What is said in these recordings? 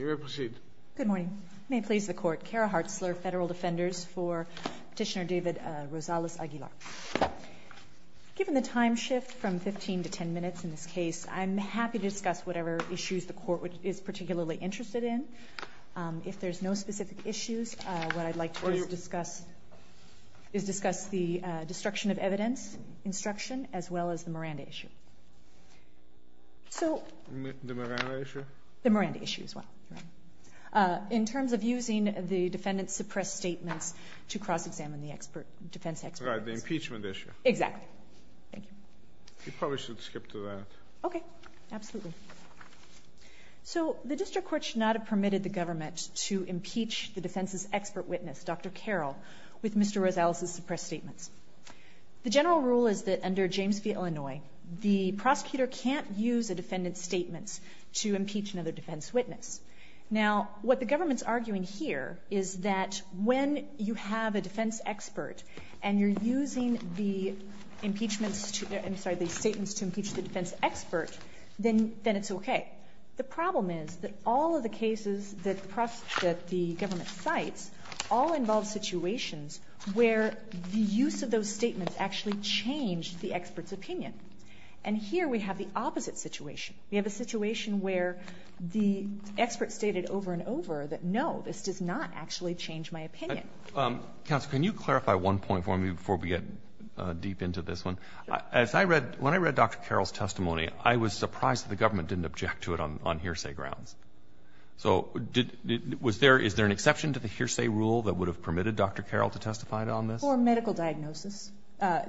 Given the time shift from 15 to 10 minutes in this case, I'm happy to discuss whatever issues the court is particularly interested in. If there's no specific issues, what I'd like to do is discuss the destruction of evidence instruction as well as the Miranda issue. The Miranda issue? The Miranda issue as well. In terms of using the defendant's suppressed statements to cross-examine the defense experts. Right, the impeachment issue. Exactly. Thank you. You probably should skip to that. Okay, absolutely. So the district court should not have permitted the government to impeach the defense's expert witness, Dr. Carroll, with Mr. Rosales' suppressed statements. The general rule is that under James v. Illinois, the prosecutor can't use a defendant's statements to impeach another defense witness. Now, what the government's arguing here is that when you have a defense expert and you're using the impeachments to, I'm sorry, the statements to impeach the defense expert, then it's okay. The problem is that all of the cases that the government cites all involve situations where the use of those statements actually changed the expert's opinion. And here we have the opposite situation. We have a situation where the expert stated over and over that, no, this does not actually change my opinion. Counsel, can you clarify one point for me before we get deep into this one? Sure. As I read, when I read Dr. Carroll's testimony, I was surprised that the government didn't object to it on hearsay grounds. So was there, is there an exception to the hearsay rule that would have permitted Dr. Carroll to testify on this? For medical diagnosis.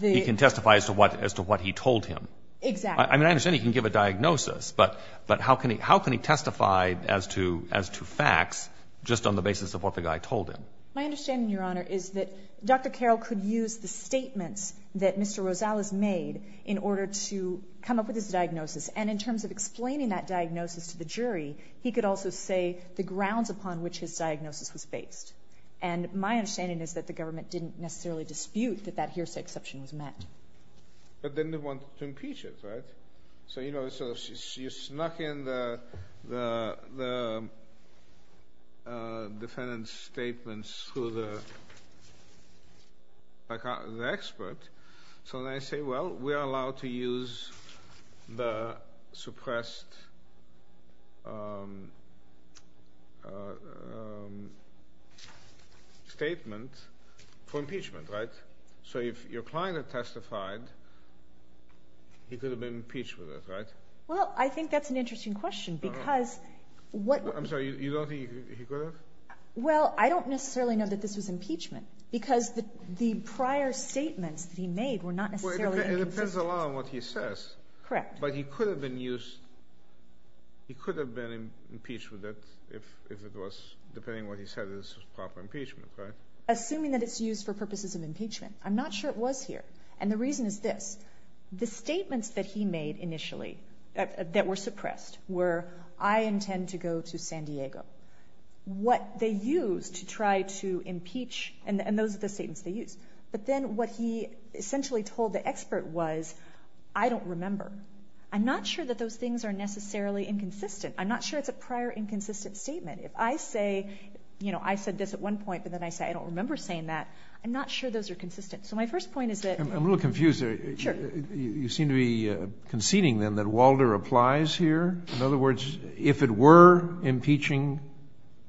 He can testify as to what he told him. Exactly. I mean, I understand he can give a diagnosis, but how can he testify as to facts just on the basis of what the guy told him? My understanding, Your Honor, is that Dr. Carroll could use the statements that Mr. Rosales made in order to come up with his diagnosis. And in terms of explaining that diagnosis to the jury, he could also say the grounds upon which his diagnosis was based. And my understanding is that the government didn't necessarily dispute that that hearsay exception was met. But then they wanted to impeach it, right? So, you know, so you snuck in the defendant's statements through the expert. So then I say, well, we are allowed to use the suppressed statement for impeachment, right? So if your client had testified, he could have been impeached with it, right? Well, I think that's an interesting question because what... I'm sorry, you don't think he could have? Well, I don't necessarily know that this was impeachment because the prior statements that he made were not necessarily inconsistent. Well, it depends a lot on what he says. Correct. But he could have been used, he could have been impeached with it if it was, depending on what he said, this was proper impeachment, right? Assuming that it's used for purposes of impeachment. I'm not sure it was here. And the reason is this. The statements that he made initially that were suppressed were, I intend to go to San Diego. What they used to try to impeach, and those are the statements they used. But then what he essentially told the expert was, I don't remember. I'm not sure that those things are necessarily inconsistent. I'm not sure it's a prior inconsistent statement. If I say, you know, I said this at one point, but then I say I don't remember saying that, I'm not sure those are consistent. So my first point is that... I'm a little confused there. Sure. You seem to be conceding then that Walder applies here? In other words, if it were impeaching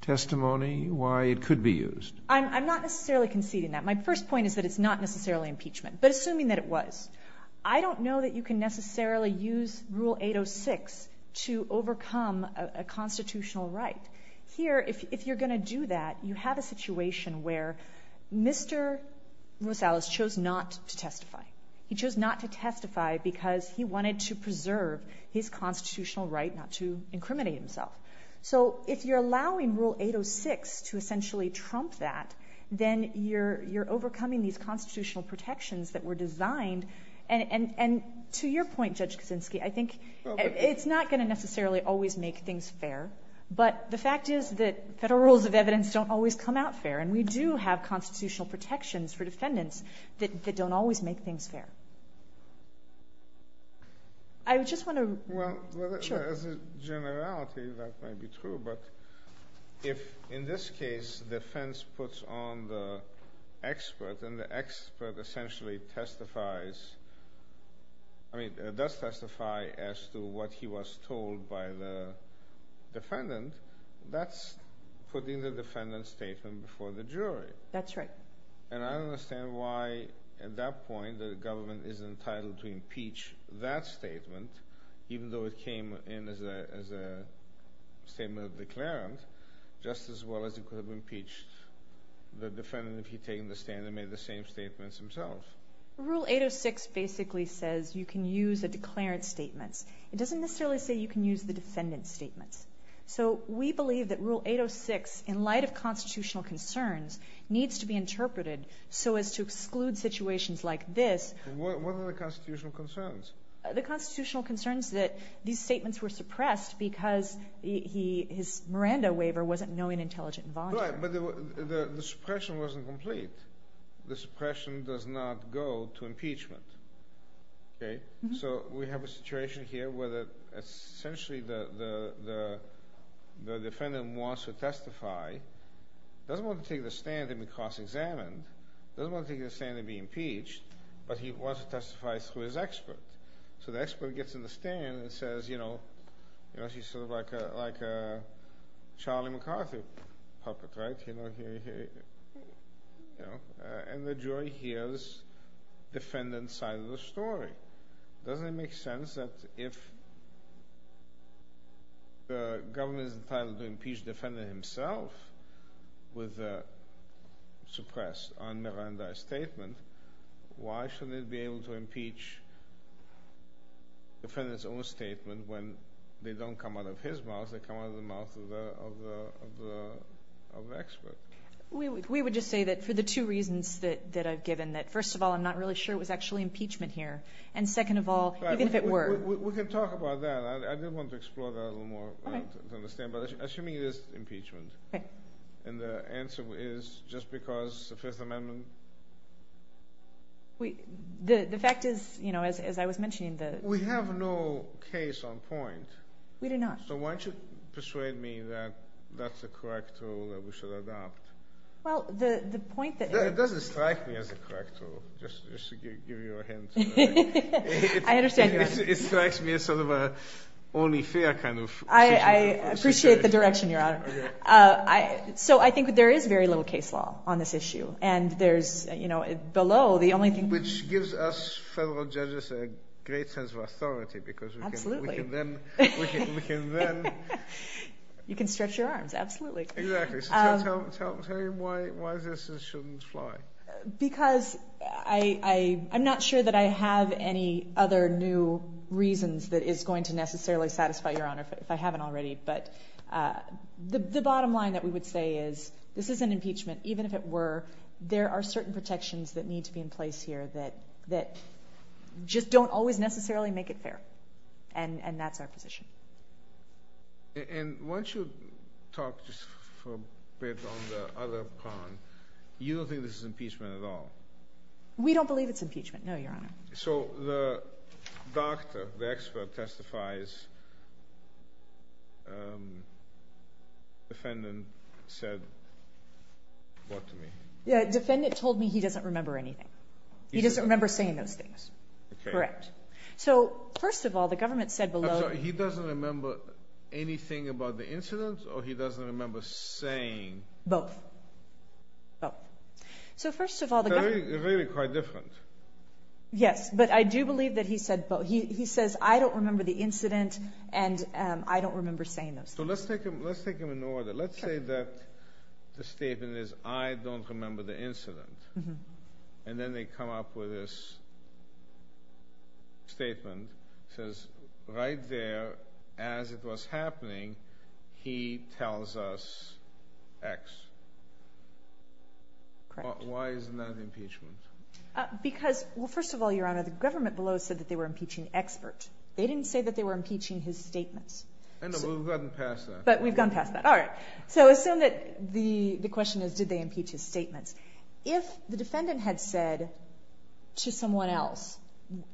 testimony, why it could be used. I'm not necessarily conceding that. My first point is that it's not necessarily impeachment. But assuming that it was. I don't know that you can necessarily use Rule 806 to overcome a constitutional right. Here, if you're going to do that, you have a situation where Mr. Rosales chose not to testify. He chose not to testify because he wanted to preserve his constitutional right not to incriminate himself. So if you're allowing Rule 806 to essentially trump that, then you're overcoming these constitutional protections that were designed. And to your point, Judge Kaczynski, I think it's not going to necessarily always make things fair. But the fact is that federal rules of evidence don't always come out fair. And we do have constitutional protections for defendants that don't always make things fair. I just want to... Well, as a generality, that might be true. But if, in this case, defense puts on the expert and the expert essentially testifies, I mean, does testify as to what he was told by the defendant, that's putting the defendant's statement before the jury. That's right. And I don't understand why, at that point, the government is entitled to impeach that statement, even though it came in as a statement of declarant, just as well as it could have impeached the defendant if he'd taken the stand and made the same statements himself. Rule 806 basically says you can use a declarant's statements. It doesn't necessarily say you can use the defendant's statements. So we believe that Rule 806, in light of constitutional concerns, needs to be interpreted so as to exclude situations like this. What are the constitutional concerns? The constitutional concerns that these statements were suppressed because his Miranda waiver wasn't knowing, intelligent, and voluntary. Right, but the suppression wasn't complete. The suppression does not go to impeachment. Okay? So we have a situation here where essentially the defendant wants to testify, doesn't want to take the stand and be cross-examined, doesn't want to take the stand and be impeached, but he wants to testify through his expert. So the expert gets in the stand and says, you know, she's sort of like a Charlie McCarthy puppet, right? And the jury hears the defendant's side of the story. Doesn't it make sense that if the government is entitled to impeach the defendant himself with a suppressed un-Miranda statement, why shouldn't it be able to impeach the defendant's own statement when they don't come out of his mouth, they come out of the mouth of the expert? We would just say that for the two reasons that I've given, that first of all, I'm not really sure it was actually impeachment here, and second of all, even if it were. We can talk about that. I do want to explore that a little more to understand, but assuming it is impeachment. Okay. And the answer is just because the Fifth Amendment? The fact is, you know, as I was mentioning the – We have no case on point. We do not. So why don't you persuade me that that's the correct rule that we should adopt? Well, the point that – It doesn't strike me as the correct rule, just to give you a hint. I understand. It strikes me as sort of an only fair kind of situation. I appreciate the direction, Your Honor. So I think there is very little case law on this issue, and there's, you know, below the only thing – Which gives us federal judges a great sense of authority because we can then – Absolutely. We can then – You can stretch your arms, absolutely. Exactly. So tell me why this shouldn't fly. Because I'm not sure that I have any other new reasons that is going to necessarily satisfy, Your Honor, if I haven't already. But the bottom line that we would say is this is an impeachment. Even if it were, there are certain protections that need to be in place here that just don't always necessarily make it fair. And that's our position. And once you talk just for a bit on the other pawn, you don't think this is impeachment at all? We don't believe it's impeachment, no, Your Honor. So the doctor, the expert testifies defendant said what to me? Yeah, defendant told me he doesn't remember anything. He doesn't remember saying those things. Okay. Correct. So first of all, the government said below – He doesn't remember anything about the incident or he doesn't remember saying – Both. Both. So first of all, the government – They're really quite different. Yes, but I do believe that he said both. He says I don't remember the incident and I don't remember saying those things. So let's take them in order. Let's say that the statement is I don't remember the incident. And then they come up with this statement that says right there as it was happening, he tells us X. Correct. Why isn't that impeachment? Because, well, first of all, Your Honor, the government below said that they were impeaching expert. They didn't say that they were impeaching his statements. No, we've gotten past that. But we've gone past that. All right. So assume that the question is did they impeach his statements. If the defendant had said to someone else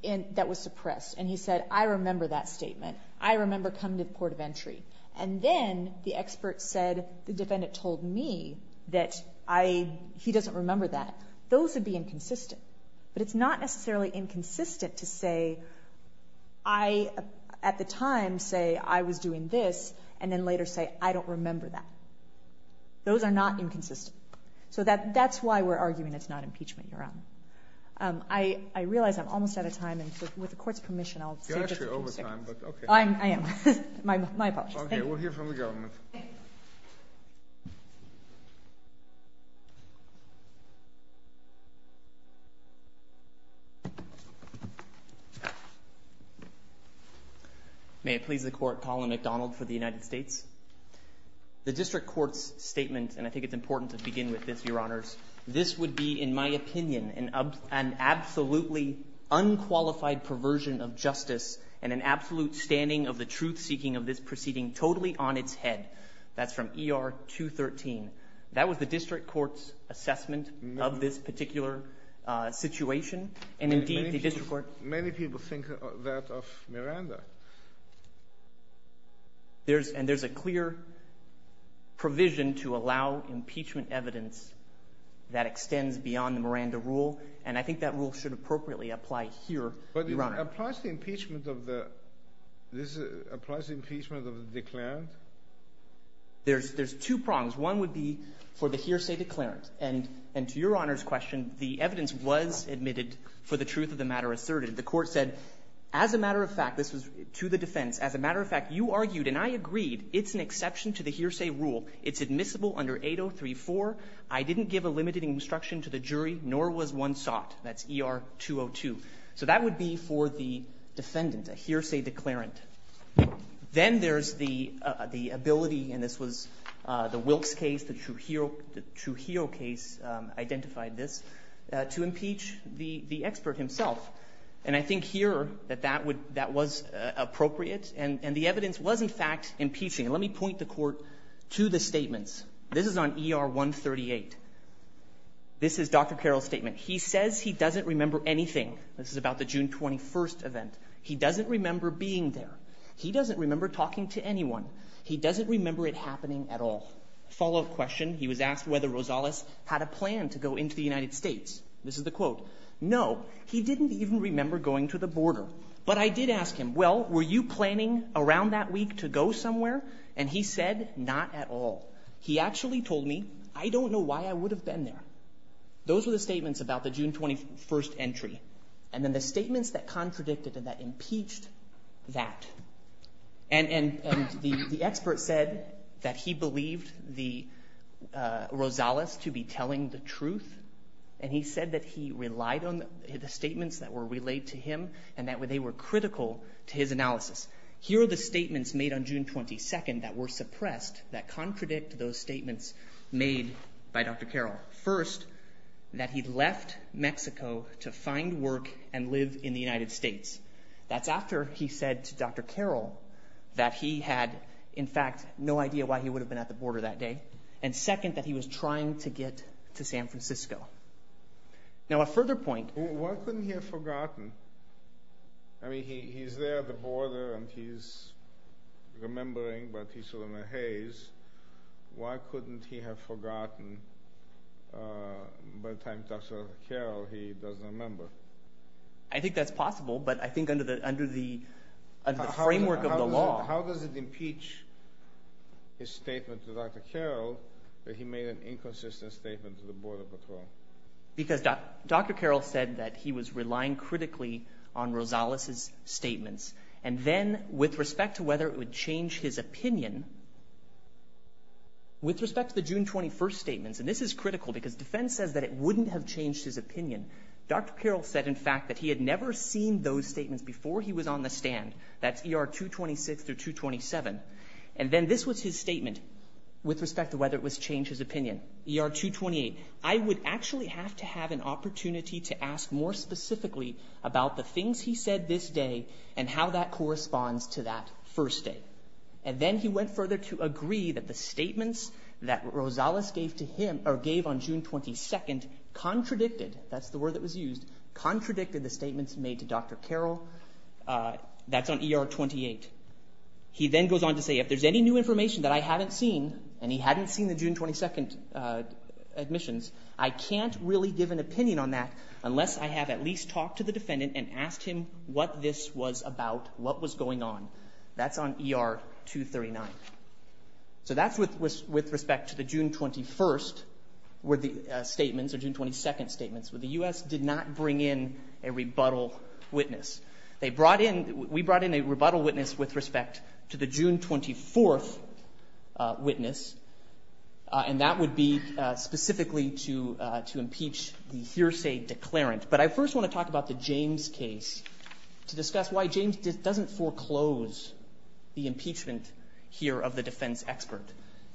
that was suppressed and he said I remember that statement, I remember coming to the port of entry, and then the expert said the defendant told me that he doesn't remember that, those would be inconsistent. But it's not necessarily inconsistent to say I at the time say I was doing this and then later say I don't remember that. Those are not inconsistent. So that's why we're arguing it's not impeachment, Your Honor. I realize I'm almost out of time, and so with the court's permission I'll save this a few seconds. You're actually over time, but okay. I am. My apologies. Okay. We'll hear from the government. May it please the Court. Colin McDonald for the United States. The district court's statement, and I think it's important to begin with this, Your Honors, this would be in my opinion an absolutely unqualified perversion of justice and an absolute standing of the truth-seeking of this proceeding totally on its head. That's from ER 213. That was the district court's assessment of this particular situation. And indeed, the district court — Many people think that of Miranda. There's — and there's a clear provision to allow impeachment evidence that extends beyond the Miranda rule, and I think that rule should appropriately apply here, Your Honor. But it applies to impeachment of the — this applies to impeachment of the declarant? There's two prongs. One would be for the hearsay declarant, and to Your Honor's question, the evidence was admitted for the truth of the matter asserted. The court said, as a matter of fact, this was to the defense, as a matter of fact, you argued, and I agreed it's an exception to the hearsay rule. It's admissible under 8034. I didn't give a limited instruction to the jury, nor was one sought. That's ER 202. So that would be for the defendant, a hearsay declarant. Then there's the ability, and this was the Wilkes case, the Trujillo case identified this, to impeach the expert himself. And I think here that that would — that was appropriate, and the evidence was, in fact, impeaching. Let me point the Court to the statements. This is on ER 138. This is Dr. Carroll's statement. He says he doesn't remember anything. This is about the June 21 event. He doesn't remember being there. He doesn't remember talking to anyone. He doesn't remember it happening at all. Follow-up question, he was asked whether Rosales had a plan to go into the United States. This is the quote. No, he didn't even remember going to the border. But I did ask him, well, were you planning around that week to go somewhere? And he said, not at all. He actually told me, I don't know why I would have been there. Those were the statements about the June 21 entry. And then the statements that contradicted and that impeached that. And the expert said that he believed the — Rosales to be telling the truth. And he said that he relied on the statements that were relayed to him and that they were critical to his analysis. Here are the statements made on June 22 that were suppressed that contradict those statements made by Dr. Carroll. First, that he left Mexico to find work and live in the United States. That's after he said to Dr. Carroll that he had, in fact, no idea why he would have been at the border that day. And second, that he was trying to get to San Francisco. Now, a further point. Why couldn't he have forgotten? I mean, he's there at the border and he's remembering, but he's sort of in a haze. Why couldn't he have forgotten by the time Dr. Carroll, he doesn't remember? I think that's possible, but I think under the framework of the law. How does it impeach his statement to Dr. Carroll that he made an inconsistent statement to the border patrol? Because Dr. Carroll said that he was relying critically on Rosales' statements. And then, with respect to whether it would change his opinion, with respect to the June 21 statements, and this is critical because defense says that it wouldn't have changed his opinion. Dr. Carroll said, in fact, that he had never seen those statements before he was on the stand. That's ER 226 through 227. And then this was his statement with respect to whether it would change his opinion. ER 228. I would actually have to have an opportunity to ask more specifically about the things he said this day and how that corresponds to that first day. And then he went further to agree that the statements that Rosales gave to him, or gave on June 22nd, contradicted, that's the word that was used, contradicted the statements made to Dr. Carroll. That's on ER 28. He then goes on to say, if there's any new information that I haven't seen, and he hadn't seen the June 22 admissions, I can't really give an opinion on that unless I have at least talked to the defendant and asked him what this was about, what was going on. That's on ER 239. So that's with respect to the June 21st statements, or June 22nd statements, where the U.S. did not bring in a rebuttal witness. They brought in – we brought in a rebuttal witness with respect to the June 24th witness, and that would be specifically to impeach the hearsay declarant. But I first want to talk about the James case to discuss why James doesn't foreclose the impeachment here of the defense expert.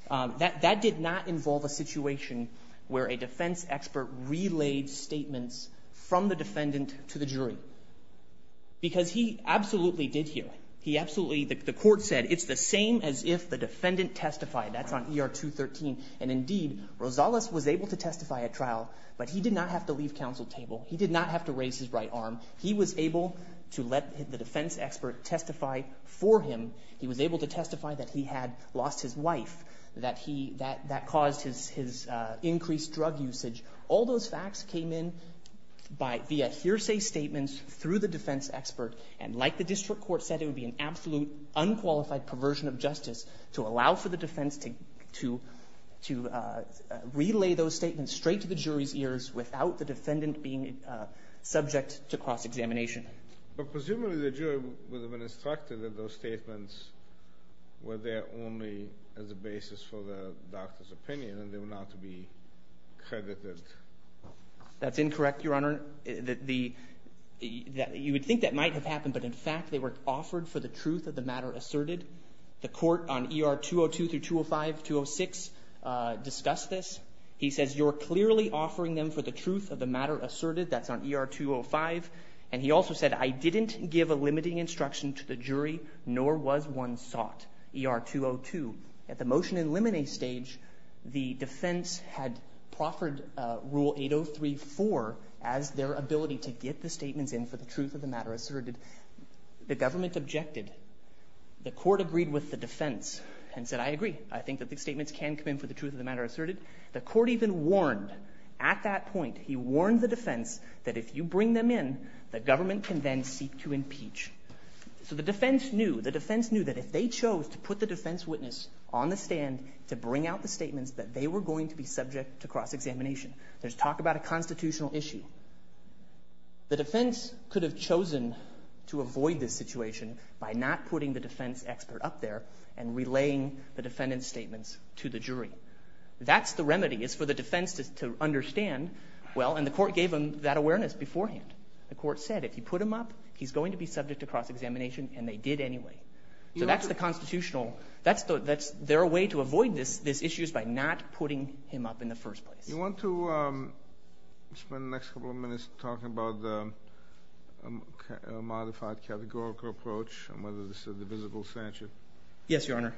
That did not involve a situation where a defense expert relayed statements from the defendant to the jury, because he absolutely did here. He absolutely – the court said, it's the same as if the defendant testified. That's on ER 213. And indeed, Rosales was able to testify at trial, but he did not have to leave counsel table. He did not have to raise his right arm. He was able to let the defense expert testify for him. He was able to testify that he had lost his wife, that he – that caused his increased drug usage. All those facts came in by – via hearsay statements through the defense expert. And like the district court said, it would be an absolute unqualified perversion of justice to allow for the defense to relay those statements straight to the jury's ears without the defendant being subject to cross-examination. But presumably the jury would have been instructed that those statements were there only as a basis for the doctor's opinion and they were not to be credited. That's incorrect, Your Honor. The – you would think that might have happened, but in fact they were offered for the truth of the matter asserted. The court on ER 202 through 205, 206, discussed this. He says, you're clearly offering them for the truth of the matter asserted. That's on ER 205. And he also said, I didn't give a limiting instruction to the jury, nor was one sought. ER 202, at the motion eliminate stage, the defense had proffered Rule 803-4 as their ability to get the statements in for the truth of the matter asserted. The government objected. The court agreed with the defense and said, I agree. I think that the statements can come in for the truth of the matter asserted. The court even warned at that point, he warned the defense, that if you bring them in, the government can then seek to impeach. So the defense knew, the defense knew that if they chose to put the defense witness on the stand to bring out the statements, that they were going to be subject to cross-examination. There's talk about a constitutional issue. The defense could have chosen to avoid this situation by not putting the defense expert up there and relaying the defendant's statements to the jury. That's the remedy. It's for the defense to understand, well, and the court gave them that awareness beforehand. The court said, if you put him up, he's going to be subject to cross-examination, and they did anyway. So that's the constitutional. That's their way to avoid this issue is by not putting him up in the first place. You want to spend the next couple of minutes talking about the modified categorical approach and whether this is a divisible statute? Yes, Your Honor.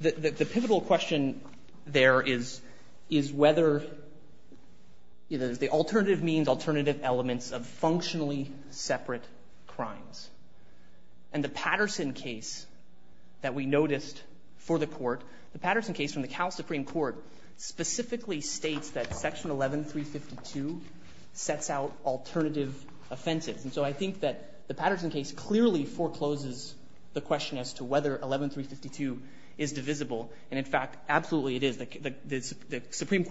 The pivotal question there is, is whether the alternative means, alternative elements of functionally separate crimes? And the Patterson case that we noticed for the Court, the Patterson case from the Cal Supreme Court, specifically states that Section 11352 sets out alternative offenses. And so I think that the Patterson case clearly forecloses the question as to whether 11352 is divisible. And, in fact, absolutely it is. There are two cases in Section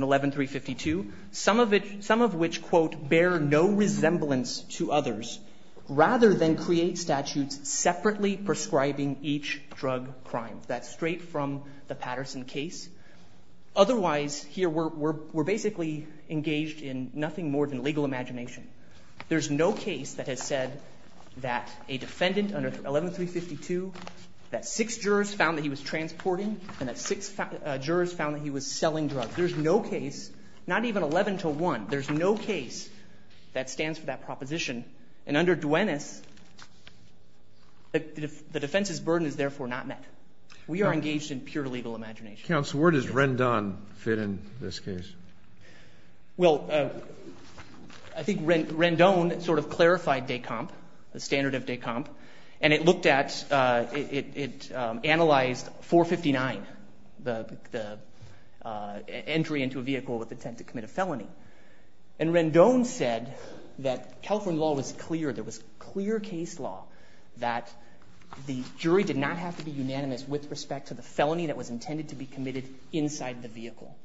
11352, some of which, quote, bear no resemblance to others, rather than create statutes separately prescribing each drug crime. That's straight from the Patterson case. Otherwise, here we're basically engaged in nothing more than legal imagination. There's no case that has said that a defendant under 11352, that six jurors found that he was transporting and that six jurors found that he was selling drugs. There's no case, not even 11 to 1, there's no case that stands for that proposition. And under Duenas, the defense's burden is therefore not met. We are engaged in pure legal imagination. Counsel, where does Rendon fit in this case? Well, I think Rendon sort of clarified DECOMP, the standard of DECOMP. And it looked at, it analyzed 459, the entry into a vehicle with intent to commit a felony. And Rendon said that California law was clear, there was clear case law that the jury did not have to be unanimous with respect to the felony that was intended to be committed inside the vehicle.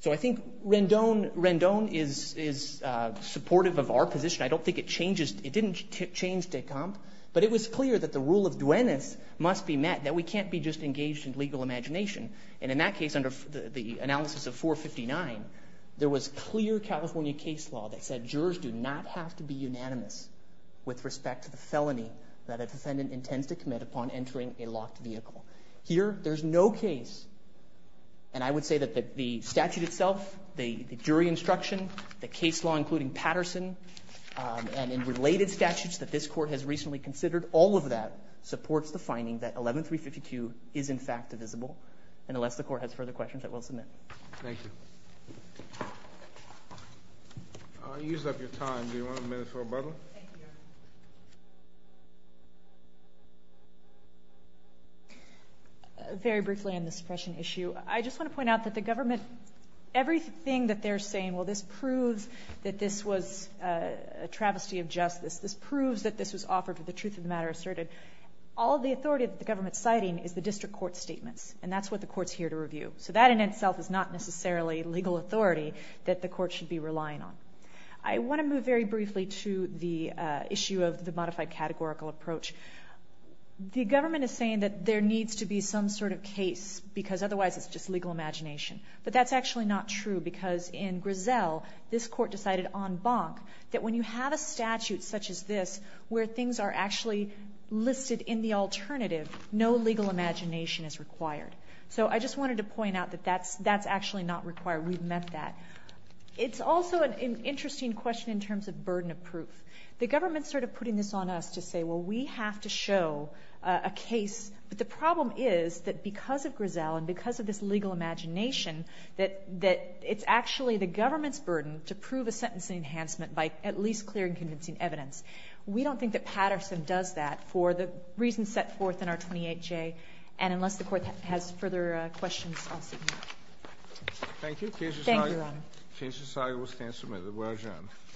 So I think Rendon is supportive of our position. I don't think it changes, it didn't change DECOMP, but it was clear that the rule of Duenas must be met, that we can't be just engaged in legal imagination. And in that case, under the analysis of 459, there was clear California case law that said jurors do not have to be unanimous with respect to the felony that a defendant intends to commit upon entering a locked vehicle. Here, there's no case, and I would say that the statute itself, the jury instruction, the case law, including Patterson, and in related statutes that this court has recently considered, all of that supports the finding that 11352 is in fact divisible. And unless the court has further questions, I will submit. Thank you. You used up your time. Do you want a minute for rebuttal? Thank you. Very briefly on the suppression issue, I just want to point out that the government, everything that they're saying, well, this proves that this was a travesty of justice, this proves that this was offered with the truth of the matter asserted, all the authority that the government's citing is the district court statements, and that's what the court's here to review. So that in itself is not necessarily legal authority that the court should be relying on. I want to move very briefly to the issue of the modified categorical approach. The government is saying that there needs to be some sort of case, because otherwise it's just legal imagination. But that's actually not true, because in Griselle, this court decided en banc that when you have a statute such as this where things are actually listed in the alternative, no legal imagination is required. So I just wanted to point out that that's actually not required. We've met that. It's also an interesting question in terms of burden of proof. The government's sort of putting this on us to say, well, we have to show a case, but the problem is that because of Griselle and because of this legal imagination that it's actually the government's burden to prove a sentence in enhancement by at least clearing convincing evidence. We don't think that Patterson does that for the reasons set forth in R-28J. And unless the Court has further questions, I'll sit here. Thank you, Your Honor. Thank you.